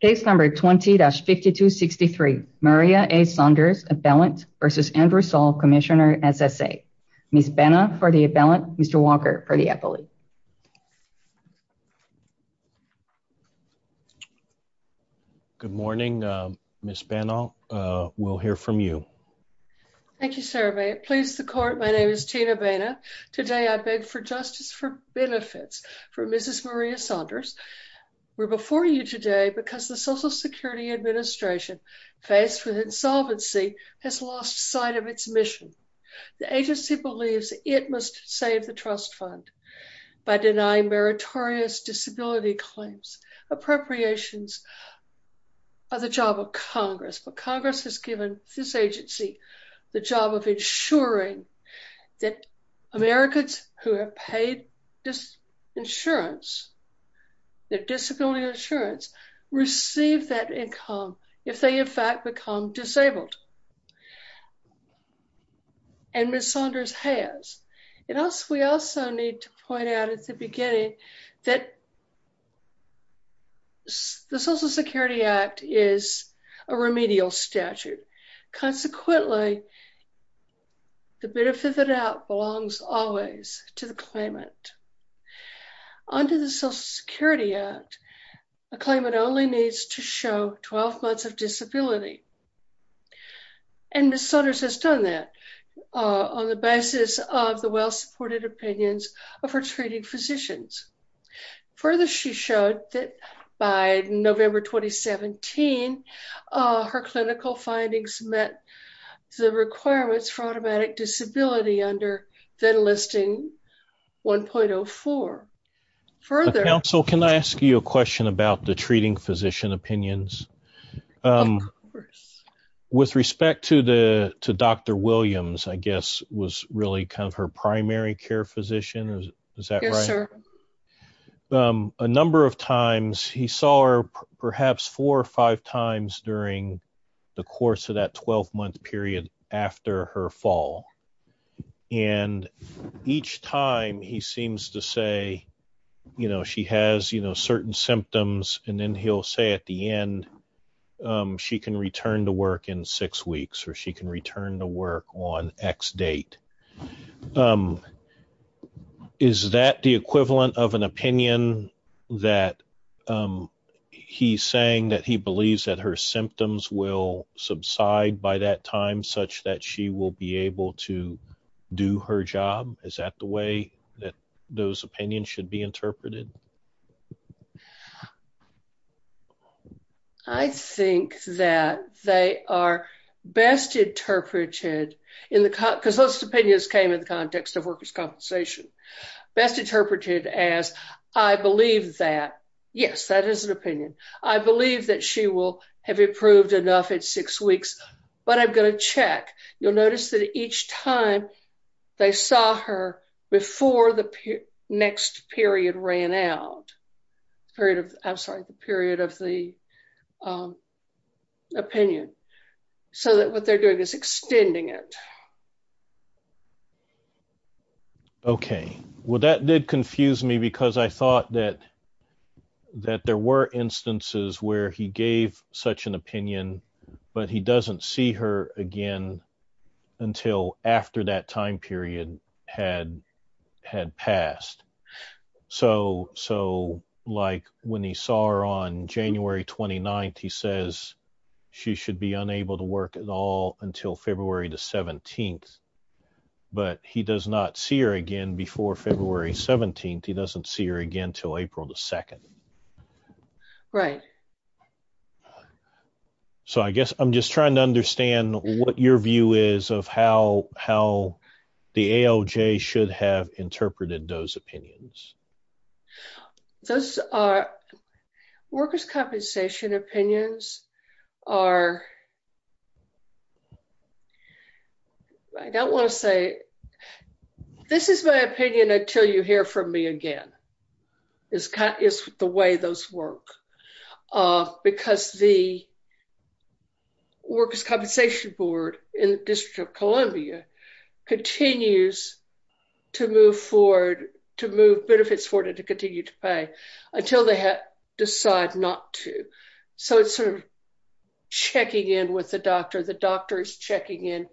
Case number 20-5263, Maria A. Saunders, appellant, versus Andrew Saul, Commissioner, SSA. Ms. Benall for the appellant, Mr. Walker for the appellate. Good morning, Ms. Benall. We'll hear from you. Thank you, sir. May it please the court, my name is Tina Benall. Today I beg for justice for benefits for Mrs. Maria Saunders. We're before you today because the Social Security Administration, faced with insolvency, has lost sight of its mission. The agency believes it must save the trust fund by denying meritorious disability claims. Appropriations are the job of Congress, but Congress has given this agency the job of ensuring that Americans who are paid insurance, their disability insurance, receive that income if they in fact become disabled. And Ms. Saunders has. We also need to point out at the beginning that the Social Security Act is a remedial statute. Consequently, the benefit of the doubt belongs always to the claimant. Under the Social Security Act, a claimant only needs to show 12 months of disability. And Ms. Saunders has done that on the basis of the well-supported opinions of her treating physicians. Further, she showed that by November 2017, her clinical findings met the requirements for automatic disability under the enlisting 1.04. Counsel, can I ask you a question about the treating physician opinions? Of course. With respect to Dr. Williams, I guess, was really kind of her primary care physician, is that right? Yes, sir. A number of times, he saw her perhaps four or five times during the course of that 12-month period after her fall. And each time, he seems to say, you know, she has, you know, certain symptoms. And then he'll say at the end, she can return to work in six weeks or she can return to work on X date. Is that the equivalent of an opinion that he's saying that he believes that her symptoms will subside by that time such that she will be able to do her job? Is that the way that those opinions should be interpreted? I think that they are best interpreted because those opinions came in the context of workers' compensation. Best interpreted as, I believe that, yes, that is an opinion. I believe that she will have improved enough in six weeks, but I'm going to check. You'll notice that each time they saw her before the next period ran out, period of, I'm sorry, the period of the opinion. So that what they're doing is extending it. Okay. Well, that did confuse me because I thought that there were instances where he gave such an opinion, but he doesn't see her again until after that time period had passed. So, like when he saw her on January 29th, he says she should be unable to work at all until February the 17th. But he does not see her again before February 17th. He doesn't see her again till April the 2nd. Right. So I guess I'm just trying to understand what your view is of how the ALJ should have interpreted those opinions. Those workers' compensation opinions are, I don't want to say, this is my opinion until you hear from me again, is the way those work. Because the workers' compensation board in the District of Columbia continues to move forward, to move benefits forward and to continue to pay until they decide not to. So it's sort of checking in with the doctor. The doctor is checking in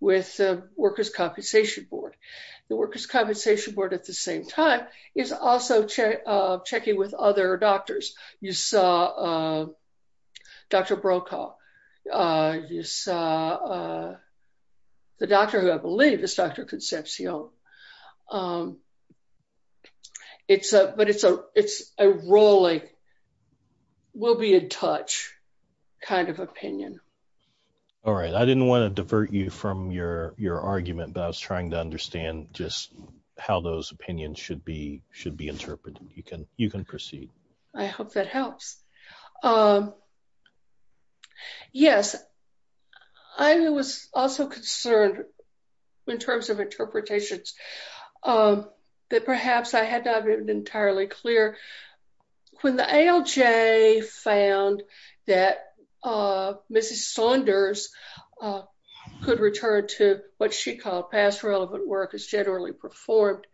with the workers' compensation board. The workers' compensation board at the same time is also checking with other doctors. You saw Dr. Brokaw. You saw the doctor who I believe is Dr. Concepcion. But it's a rolling, we'll be in touch kind of opinion. All right. I didn't want to divert you from your argument, but I was trying to understand just how those opinions should be interpreted. You can proceed. I hope that helps. Yes. I was also concerned in terms of interpretations that perhaps I had not been entirely clear. When the ALJ found that Mrs. Saunders could return to what she called past relevant work as generally performed,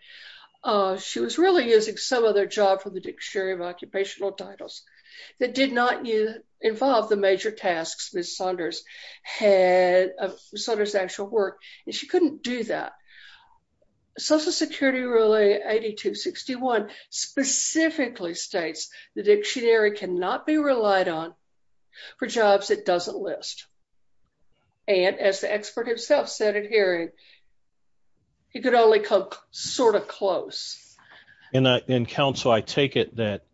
she was really using some other job from the Dictionary of Occupational Titles that did not involve the major tasks Mrs. Saunders had, Saunders' actual work, and she couldn't do that. Social Security Rule 8261 specifically states the dictionary cannot be relied on for jobs it doesn't list. And as the expert himself said at hearing, he could only come sort of close. And counsel I take it that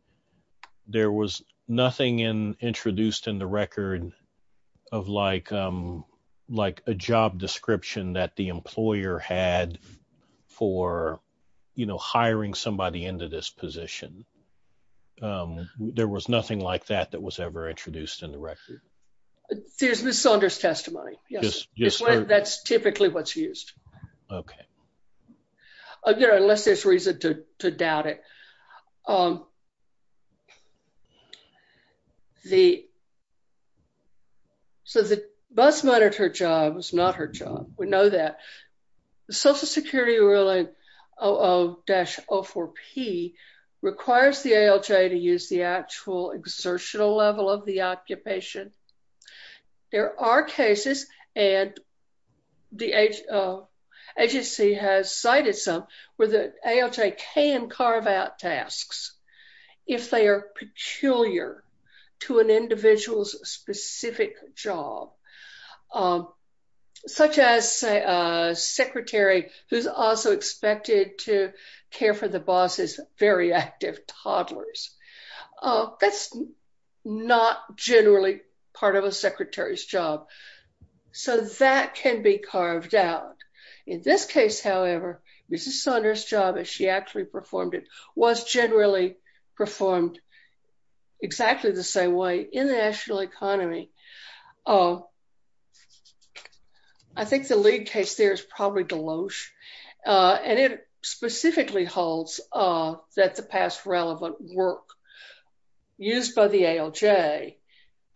there was nothing in introduced in the record of like, like a job description that the employer had for, you know, hiring somebody into this position. There was nothing like that that was ever introduced in the record. There's Miss Saunders testimony. That's typically what's used. Okay. Again, unless there's reason to doubt it. The. So the bus monitor job was not her job, we know that the Social Security Ruling 00-04P requires the ALJ to use the actual exertional level of the occupation. There are cases, and the agency has cited some, where the ALJ can carve out tasks, if they are peculiar to an individual's specific job, such as a secretary, who's also expected to care for the boss's very active toddlers. That's not generally part of a secretary's job. So that can be carved out. In this case, however, Mrs Saunders job as she actually performed it was generally performed exactly the same way in the national economy. I think the lead case there is probably Deloach, and it specifically holds that the past relevant work used by the ALJ,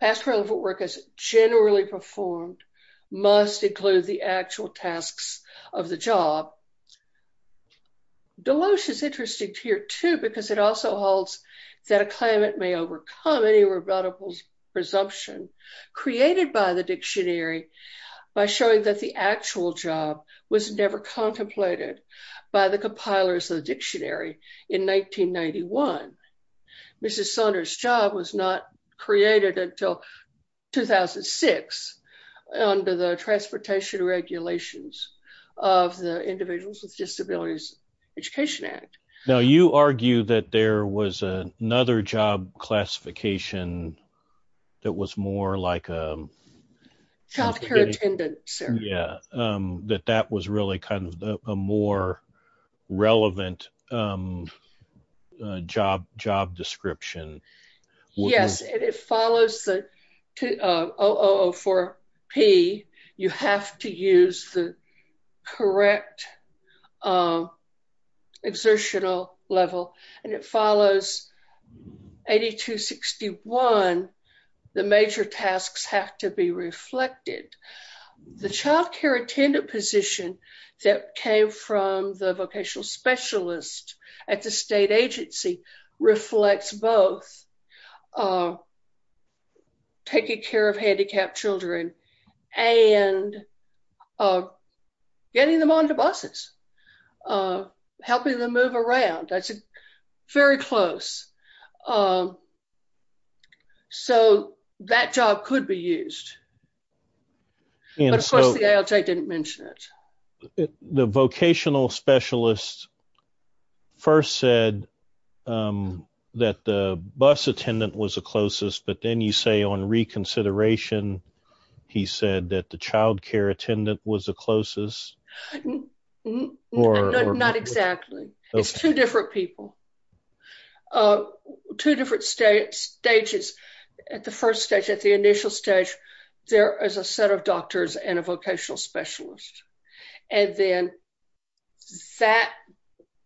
past relevant work as generally performed, must include the actual tasks of the job. Deloach is interesting here too, because it also holds that a claimant may overcome any rebuttable presumption created by the dictionary by showing that the actual job was never contemplated by the compilers of the dictionary in 1991. Mrs Saunders' job was not created until 2006 under the transportation regulations of the Individuals with Disabilities Education Act. Now you argue that there was another job classification that was more like a... Healthcare attendant, sir. Yeah, that that was really kind of a more relevant job description. Yes, and it follows the OOO4P, you have to use the correct exertional level, and it follows 8261. The major tasks have to be reflected. The childcare attendant position that came from the vocational specialist at the state agency reflects both taking care of handicapped children, and getting them onto buses, helping them move around, that's very close. So, that job could be used. But of course the ALJ didn't mention it. The vocational specialist first said that the bus attendant was the closest but then you say on reconsideration. He said that the childcare attendant was the closest. Not exactly. It's two different people. Two different stages. At the first stage, at the initial stage, there is a set of doctors and a vocational specialist. And then, that,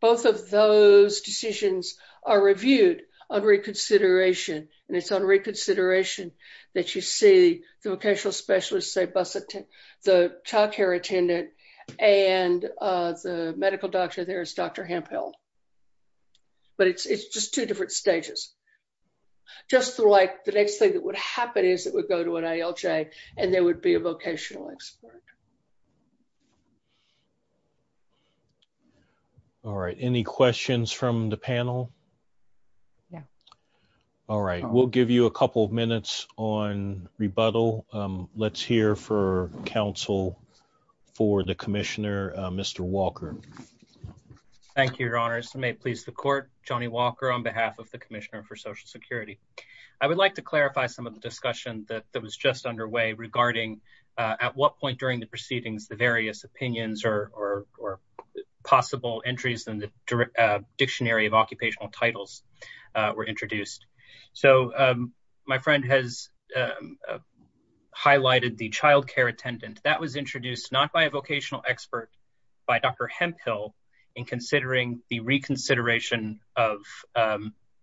both of those decisions are reviewed on reconsideration, and it's on reconsideration that you see the vocational specialist say bus attendant, the childcare attendant, and the medical doctor there is Dr. Hamphill. But it's just two different stages. Just like the next thing that would happen is it would go to an ALJ, and there would be a vocational expert. All right, any questions from the panel? Yeah. All right, we'll give you a couple of minutes on rebuttal. Let's hear for counsel for the Commissioner, Mr. Walker. Thank you, Your Honors. May it please the Court, Johnny Walker on behalf of the Commissioner for Social Security. I would like to clarify some of the discussion that was just underway regarding at what point during the proceedings the various opinions or possible entries in the dictionary of occupational titles were introduced. So, my friend has highlighted the childcare attendant. That was introduced not by a vocational expert, by Dr. Hamphill, in considering the reconsideration of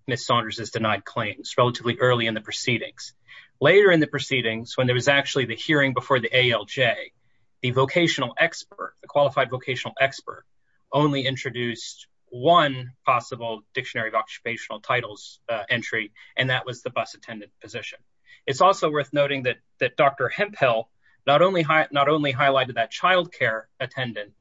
Ms. Saunders' denied claims relatively early in the proceedings. Later in the proceedings, when there was actually the hearing before the ALJ, the vocational expert, the qualified vocational expert, only introduced one possible dictionary of occupational titles entry, and that was the bus attendant position. It's also worth noting that Dr. Hamphill not only highlighted that childcare attendant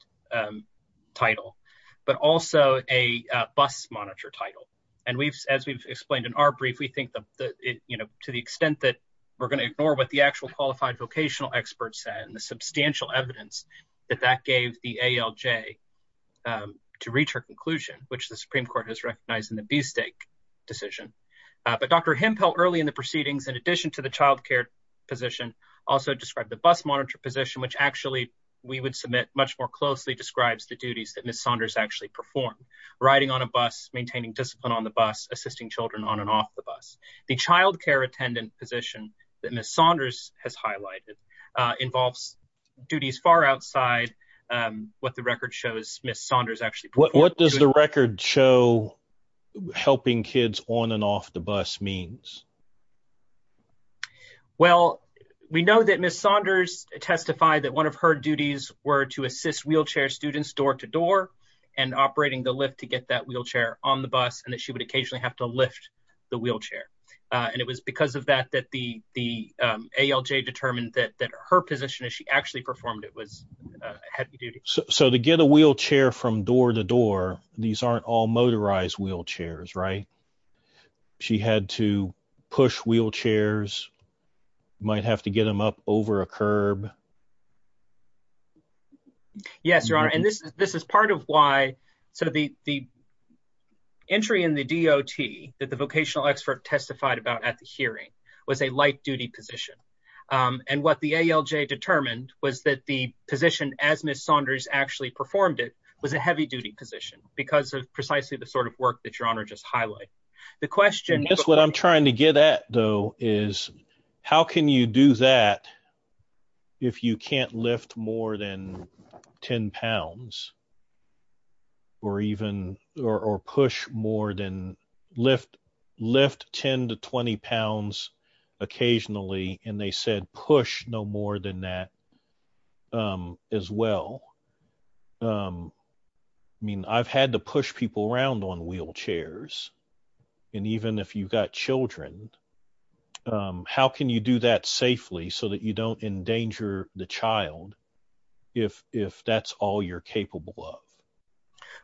title, but also a bus monitor title. And as we've explained in our brief, we think to the extent that we're going to ignore what the actual qualified vocational expert said and the substantial evidence that that gave the ALJ to reach her conclusion, which the Supreme Court has recognized in the B-Stake decision. But Dr. Hamphill, early in the proceedings, in addition to the childcare position, also described the bus monitor position, which actually we would submit much more closely describes the duties that Ms. Saunders actually performed. Riding on a bus, maintaining discipline on the bus, assisting children on and off the bus. The childcare attendant position that Ms. Saunders has highlighted involves duties far outside what the record shows Ms. Saunders actually performed. What does the record show helping kids on and off the bus means? Well, we know that Ms. Saunders testified that one of her duties were to assist wheelchair students door to door and operating the lift to get that wheelchair on the bus and that she would occasionally have to lift the wheelchair. And it was because of that that the ALJ determined that her position as she actually performed it was heavy duty. So to get a wheelchair from door to door, these aren't all motorized wheelchairs, right? She had to push wheelchairs, might have to get them up over a curb. Yes, Your Honor. And this is part of why the entry in the DOT that the vocational expert testified about at the hearing was a light duty position. And what the ALJ determined was that the position as Ms. Saunders actually performed it was a heavy duty position because of precisely the sort of work that Your Honor just highlighted. The question is what I'm trying to get at, though, is how can you do that if you can't lift more than 10 pounds? Or even or push more than lift lift 10 to 20 pounds occasionally, and they said push no more than that as well. I mean, I've had to push people around on wheelchairs, and even if you've got children, how can you do that safely so that you don't endanger the child if that's all you're capable of?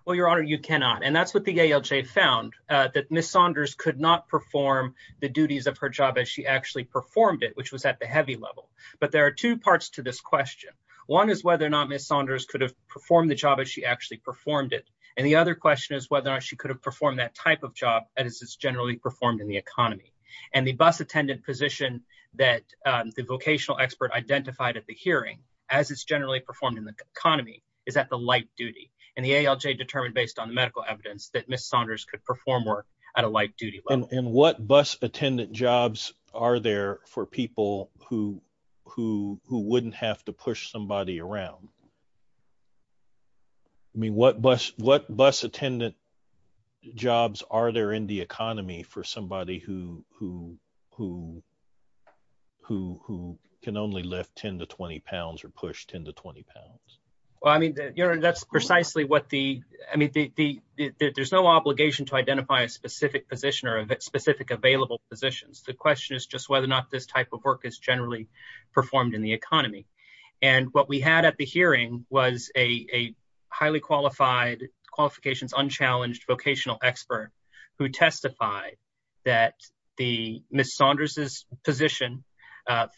Well, Your Honor, you cannot. And that's what the ALJ found, that Ms. Saunders could not perform the duties of her job as she actually performed it, which was at the heavy level. But there are two parts to this question. One is whether or not Ms. Saunders could have performed the job as she actually performed it. And the other question is whether or not she could have performed that type of job as it's generally performed in the economy. And the bus attendant position that the vocational expert identified at the hearing as it's generally performed in the economy is at the light duty. And the ALJ determined based on the medical evidence that Ms. Saunders could perform work at a light duty level. And what bus attendant jobs are there for people who wouldn't have to push somebody around? I mean, what bus attendant jobs are there in the economy for somebody who can only lift 10 to 20 pounds or push 10 to 20 pounds? Well, I mean, Your Honor, that's precisely what the... I mean, there's no obligation to identify a specific position or specific available positions. The question is just whether or not this type of work is generally performed in the economy. And what we had at the hearing was a highly qualified, qualifications unchallenged vocational expert who testified that Ms. Saunders' position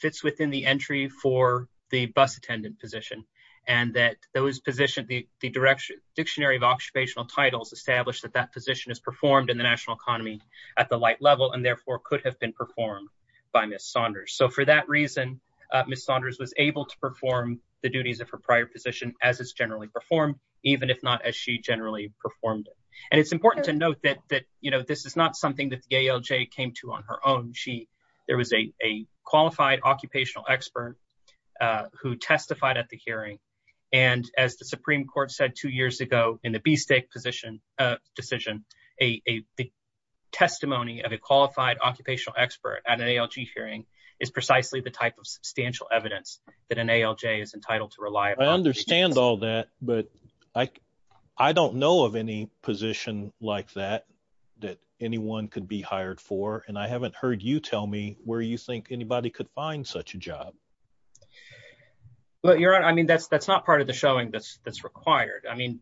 fits within the entry for the bus attendant position. And that the dictionary of occupational titles established that that position is performed in the national economy at the light level and therefore could have been performed by Ms. Saunders. So for that reason, Ms. Saunders was able to perform the duties of her prior position as it's generally performed, even if not as she generally performed it. And it's important to note that this is not something that the ALJ came to on her own. There was a qualified occupational expert who testified at the hearing. And as the Supreme Court said two years ago in the B stake position decision, a testimony of a qualified occupational expert at an ALG hearing is precisely the type of substantial evidence that an ALJ is entitled to rely upon. I understand all that, but I don't know of any position like that, that anyone could be hired for. And I haven't heard you tell me where you think anybody could find such a job. Well, Your Honor, I mean, that's not part of the showing that's required. I mean,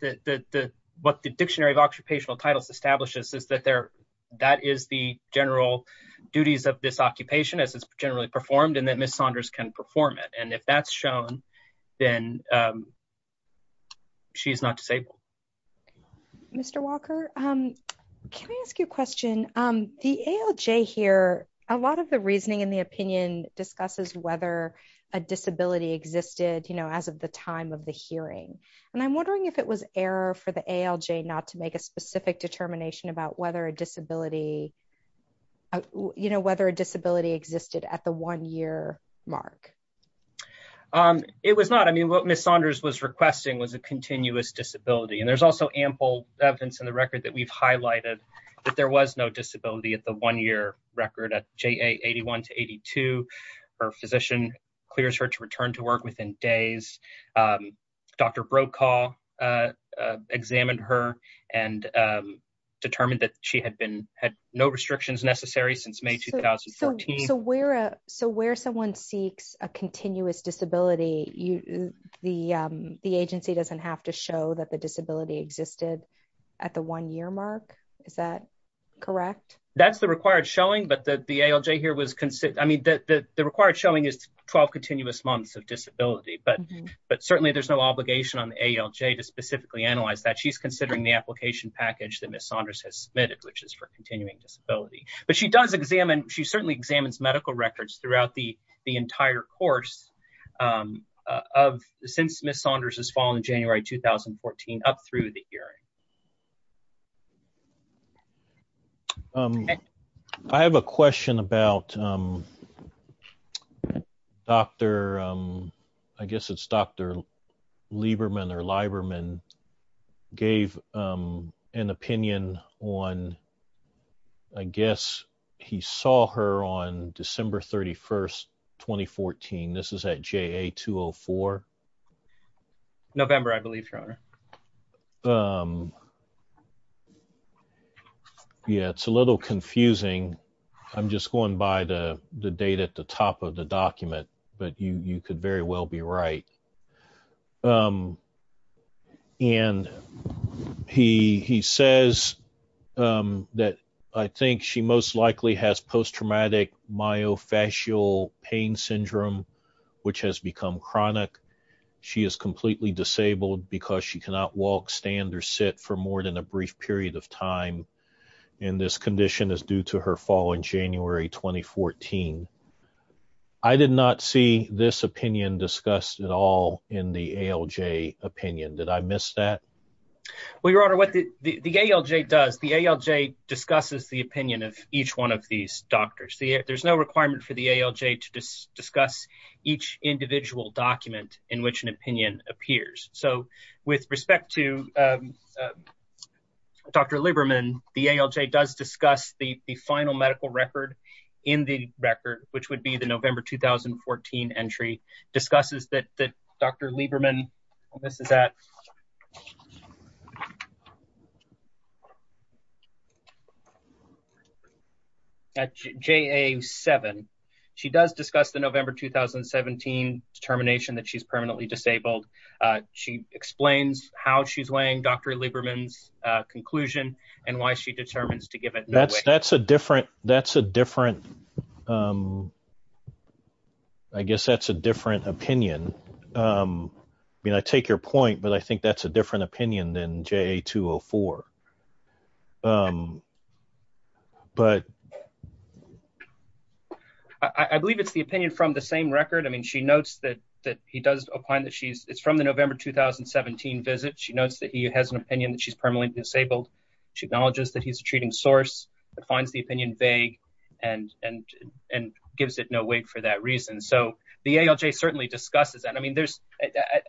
what the dictionary of occupational titles establishes is that that is the general duties of this occupation as it's generally performed and that Ms. Saunders can perform it. And if that's shown, then she's not disabled. Mr. Walker, can I ask you a question? The ALJ here, a lot of the reasoning and the opinion discusses whether a disability existed as of the time of the hearing. And I'm wondering if it was error for the ALJ not to make a specific determination about whether a disability existed at the one year mark. It was not. I mean, what Ms. Saunders was requesting was a continuous disability. And there's also ample evidence in the record that we've highlighted that there was no disability at the one year record at JA 81 to 82. Her physician clears her to return to work within days. Dr. Brokaw examined her and determined that she had no restrictions necessary since May 2014. So where someone seeks a continuous disability, the agency doesn't have to show that the disability existed at the one year mark. Is that correct? That's the required showing, but the ALJ here was considered, I mean, the required showing is 12 continuous months of disability. But certainly there's no obligation on the ALJ to specifically analyze that. She's considering the application package that Ms. Saunders has submitted, which is for continuing disability. But she does examine, she certainly examines medical records throughout the entire course of, since Ms. Saunders has fallen in January 2014 up through the hearing. I have a question about Dr., I guess it's Dr. Lieberman or Lieberman gave an opinion on, I guess he saw her on December 31st, 2014. This is at JA 204. November, I believe, your honor. Yeah, it's a little confusing. I'm just going by the date at the top of the document, but you could very well be right. And he says that I think she most likely has post-traumatic myofascial pain syndrome, which has become chronic. She is completely disabled because she cannot walk, stand, or sit for more than a brief period of time. And this condition is due to her fall in January 2014. I did not see this opinion discussed at all in the ALJ opinion. Did I miss that? Well, your honor, what the ALJ does, the ALJ discusses the opinion of each one of these doctors. There's no requirement for the ALJ to discuss each individual document in which an opinion appears. So with respect to Dr. Lieberman, the ALJ does discuss the final medical record in the record, which would be the November 2014 entry, discusses that Dr. Lieberman, this is at JA 7. She does discuss the November 2017 determination that she's permanently disabled. She explains how she's weighing Dr. Lieberman's conclusion and why she determines to give it that weight. That's a different, I guess that's a different opinion. I mean, I take your point, but I think that's a different opinion than JA 204. But I believe it's the opinion from the same record. I mean, she notes that he does find that she's it's from the November 2017 visit. She notes that he has an opinion that she's permanently disabled. She acknowledges that he's a treating source that finds the opinion vague and gives it no weight for that reason. So the ALJ certainly discusses that.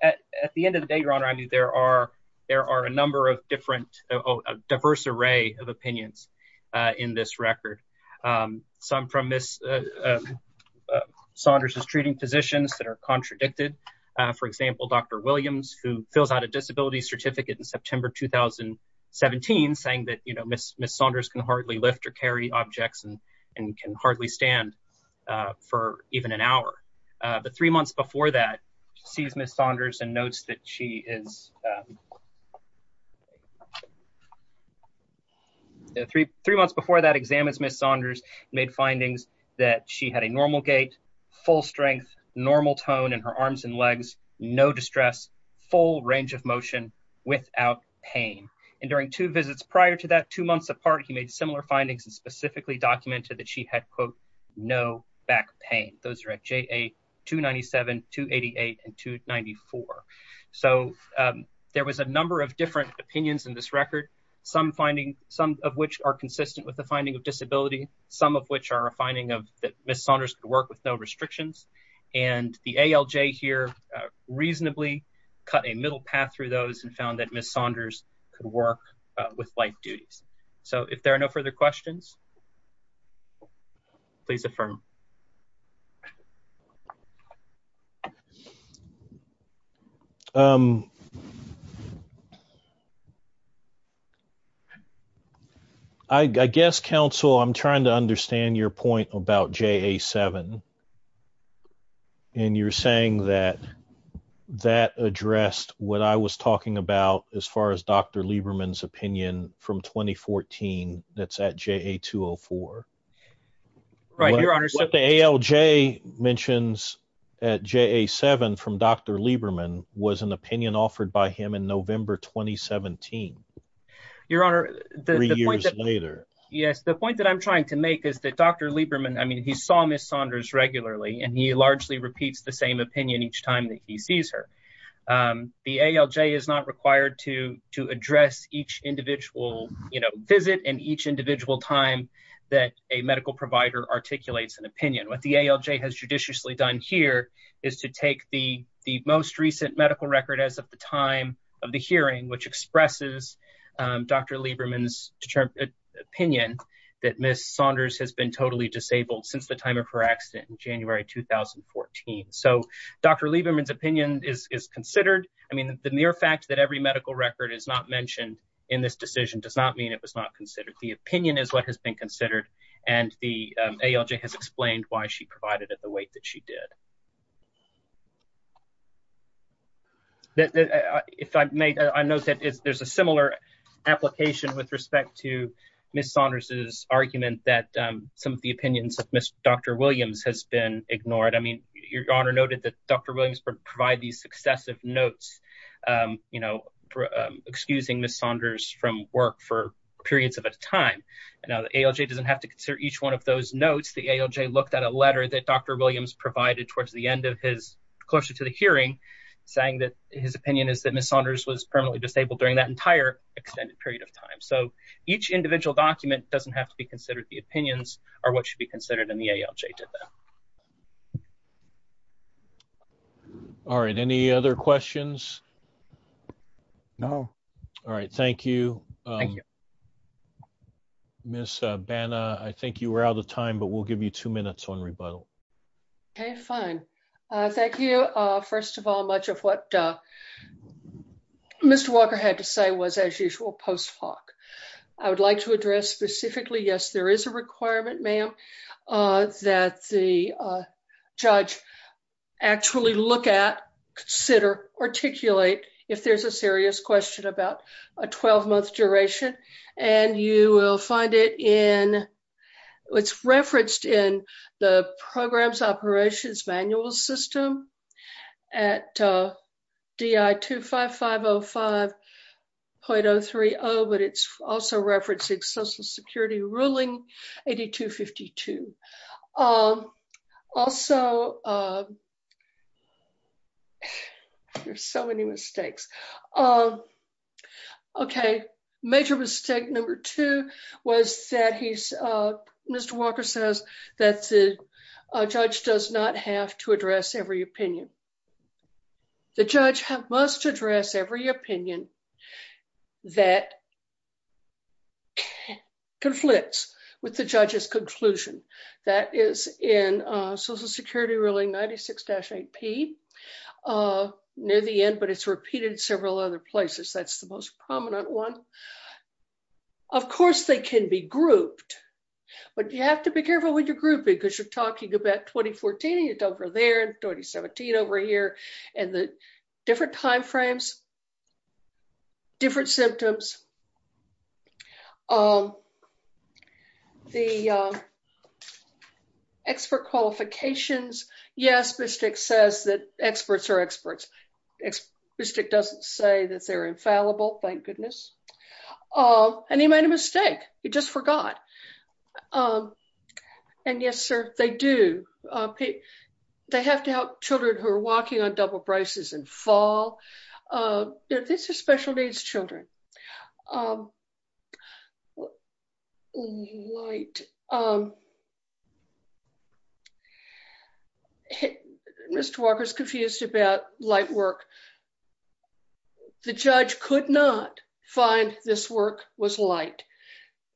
At the end of the day, your honor, I mean, there are a number of different, a diverse array of opinions in this record. Some from Ms. Saunders' treating positions that are contradicted. For example, Dr. Williams, who fills out a disability certificate in September 2017, saying that Ms. Saunders can hardly lift or carry objects and can hardly stand for even an hour. The three months before that sees Ms. Saunders and notes that she is. Three months before that examines Ms. Saunders made findings that she had a normal gait, full strength, normal tone in her arms and legs, no distress, full range of motion without pain. And during two visits prior to that, two months apart, he made similar findings and specifically documented that she had, quote, no back pain. Those are at JA 297, 288 and 294. So there was a number of different opinions in this record. Some finding, some of which are consistent with the finding of disability, some of which are a finding of that Ms. Saunders could work with no restrictions. And the ALJ here reasonably cut a middle path through those and found that Ms. Saunders could work with life duties. So if there are no further questions, please affirm. Thank you. I guess, counsel, I'm trying to understand your point about J.A. 7. And you're saying that that addressed what I was talking about as far as Dr. Lieberman's opinion from 2014. That's at J.A. 204. What the ALJ mentions at J.A. 7 from Dr. Lieberman was an opinion offered by him in November 2017. Your Honor, the point that I'm trying to make is that Dr. Lieberman, I mean, he saw Ms. Saunders regularly and he largely repeats the same opinion each time that he sees her. The ALJ is not required to address each individual visit and each individual time that a medical provider articulates an opinion. What the ALJ has judiciously done here is to take the most recent medical record as of the time of the hearing, which expresses Dr. Lieberman's opinion that Ms. Saunders has been totally disabled since the time of her accident in January 2014. So Dr. Lieberman's opinion is considered. I mean, the mere fact that every medical record is not mentioned in this decision does not mean it was not considered. The opinion is what has been considered, and the ALJ has explained why she provided it the way that she did. If I may, I note that there's a similar application with respect to Ms. Saunders' argument that some of the opinions of Dr. Williams has been ignored. I mean, Your Honor noted that Dr. Williams provided these successive notes, you know, excusing Ms. Saunders from work for periods of a time. Now, the ALJ doesn't have to consider each one of those notes. The ALJ looked at a letter that Dr. Williams provided towards the end of his closer to the hearing, saying that his opinion is that Ms. Saunders was permanently disabled during that entire extended period of time. So each individual document doesn't have to be considered. The opinions are what should be considered, and the ALJ did that. All right. Any other questions? No. All right. Thank you. Ms. Banna, I think you were out of time, but we'll give you two minutes on rebuttal. Okay, fine. Thank you, first of all, much of what Mr. Walker had to say was, as usual, post hoc. I would like to address specifically, yes, there is a requirement, ma'am, that the judge actually look at, consider, articulate, if there's a serious question about a 12-month duration. And you will find it in, it's referenced in the program's operations manual system at DI 25505.030, but it's also referencing Social Security ruling 8252. Also, there's so many mistakes. Okay, major mistake number two was that Mr. Walker says that the judge does not have to address every opinion. The judge must address every opinion that conflicts with the judge's conclusion. That is in Social Security ruling 96-8P, near the end, but it's repeated in several other places. That's the most prominent one. Of course, they can be grouped, but you have to be careful with your grouping because you're talking about 2014 over there, 2017 over here, and the different timeframes, different symptoms. The expert qualifications, yes, Bistic says that experts are experts. Bistic doesn't say that they're infallible, thank goodness. And he made a mistake. He just forgot. And yes, sir, they do. They have to help children who are walking on double braces in fall. This is special needs children. Mr. Walker's confused about light work. The judge could not find this work was light.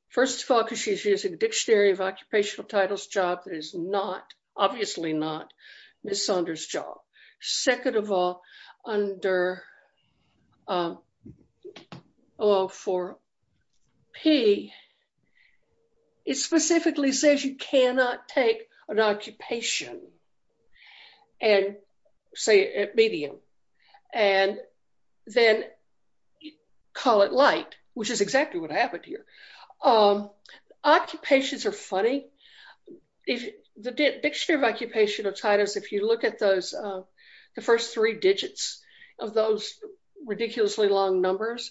First of all, because she's using the Dictionary of Occupational Titles job that is not, obviously not, Ms. Saunders' job. Second of all, under 104-P, it specifically says you cannot take an occupation, say, at medium, and then call it light, which is exactly what happened here. Occupations are funny. The Dictionary of Occupational Titles, if you look at those, the first three digits of those ridiculously long numbers,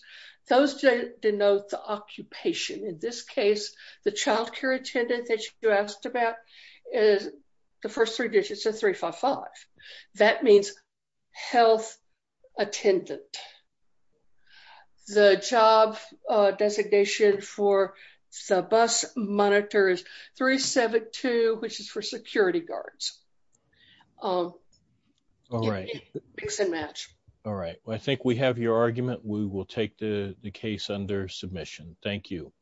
those denote the occupation. In this case, the child care attendant that you asked about is the first three digits of 355. That means health attendant. The job designation for the bus monitor is 372, which is for security guards. All right. All right. Well, I think we have your argument. We will take the case under submission. Thank you.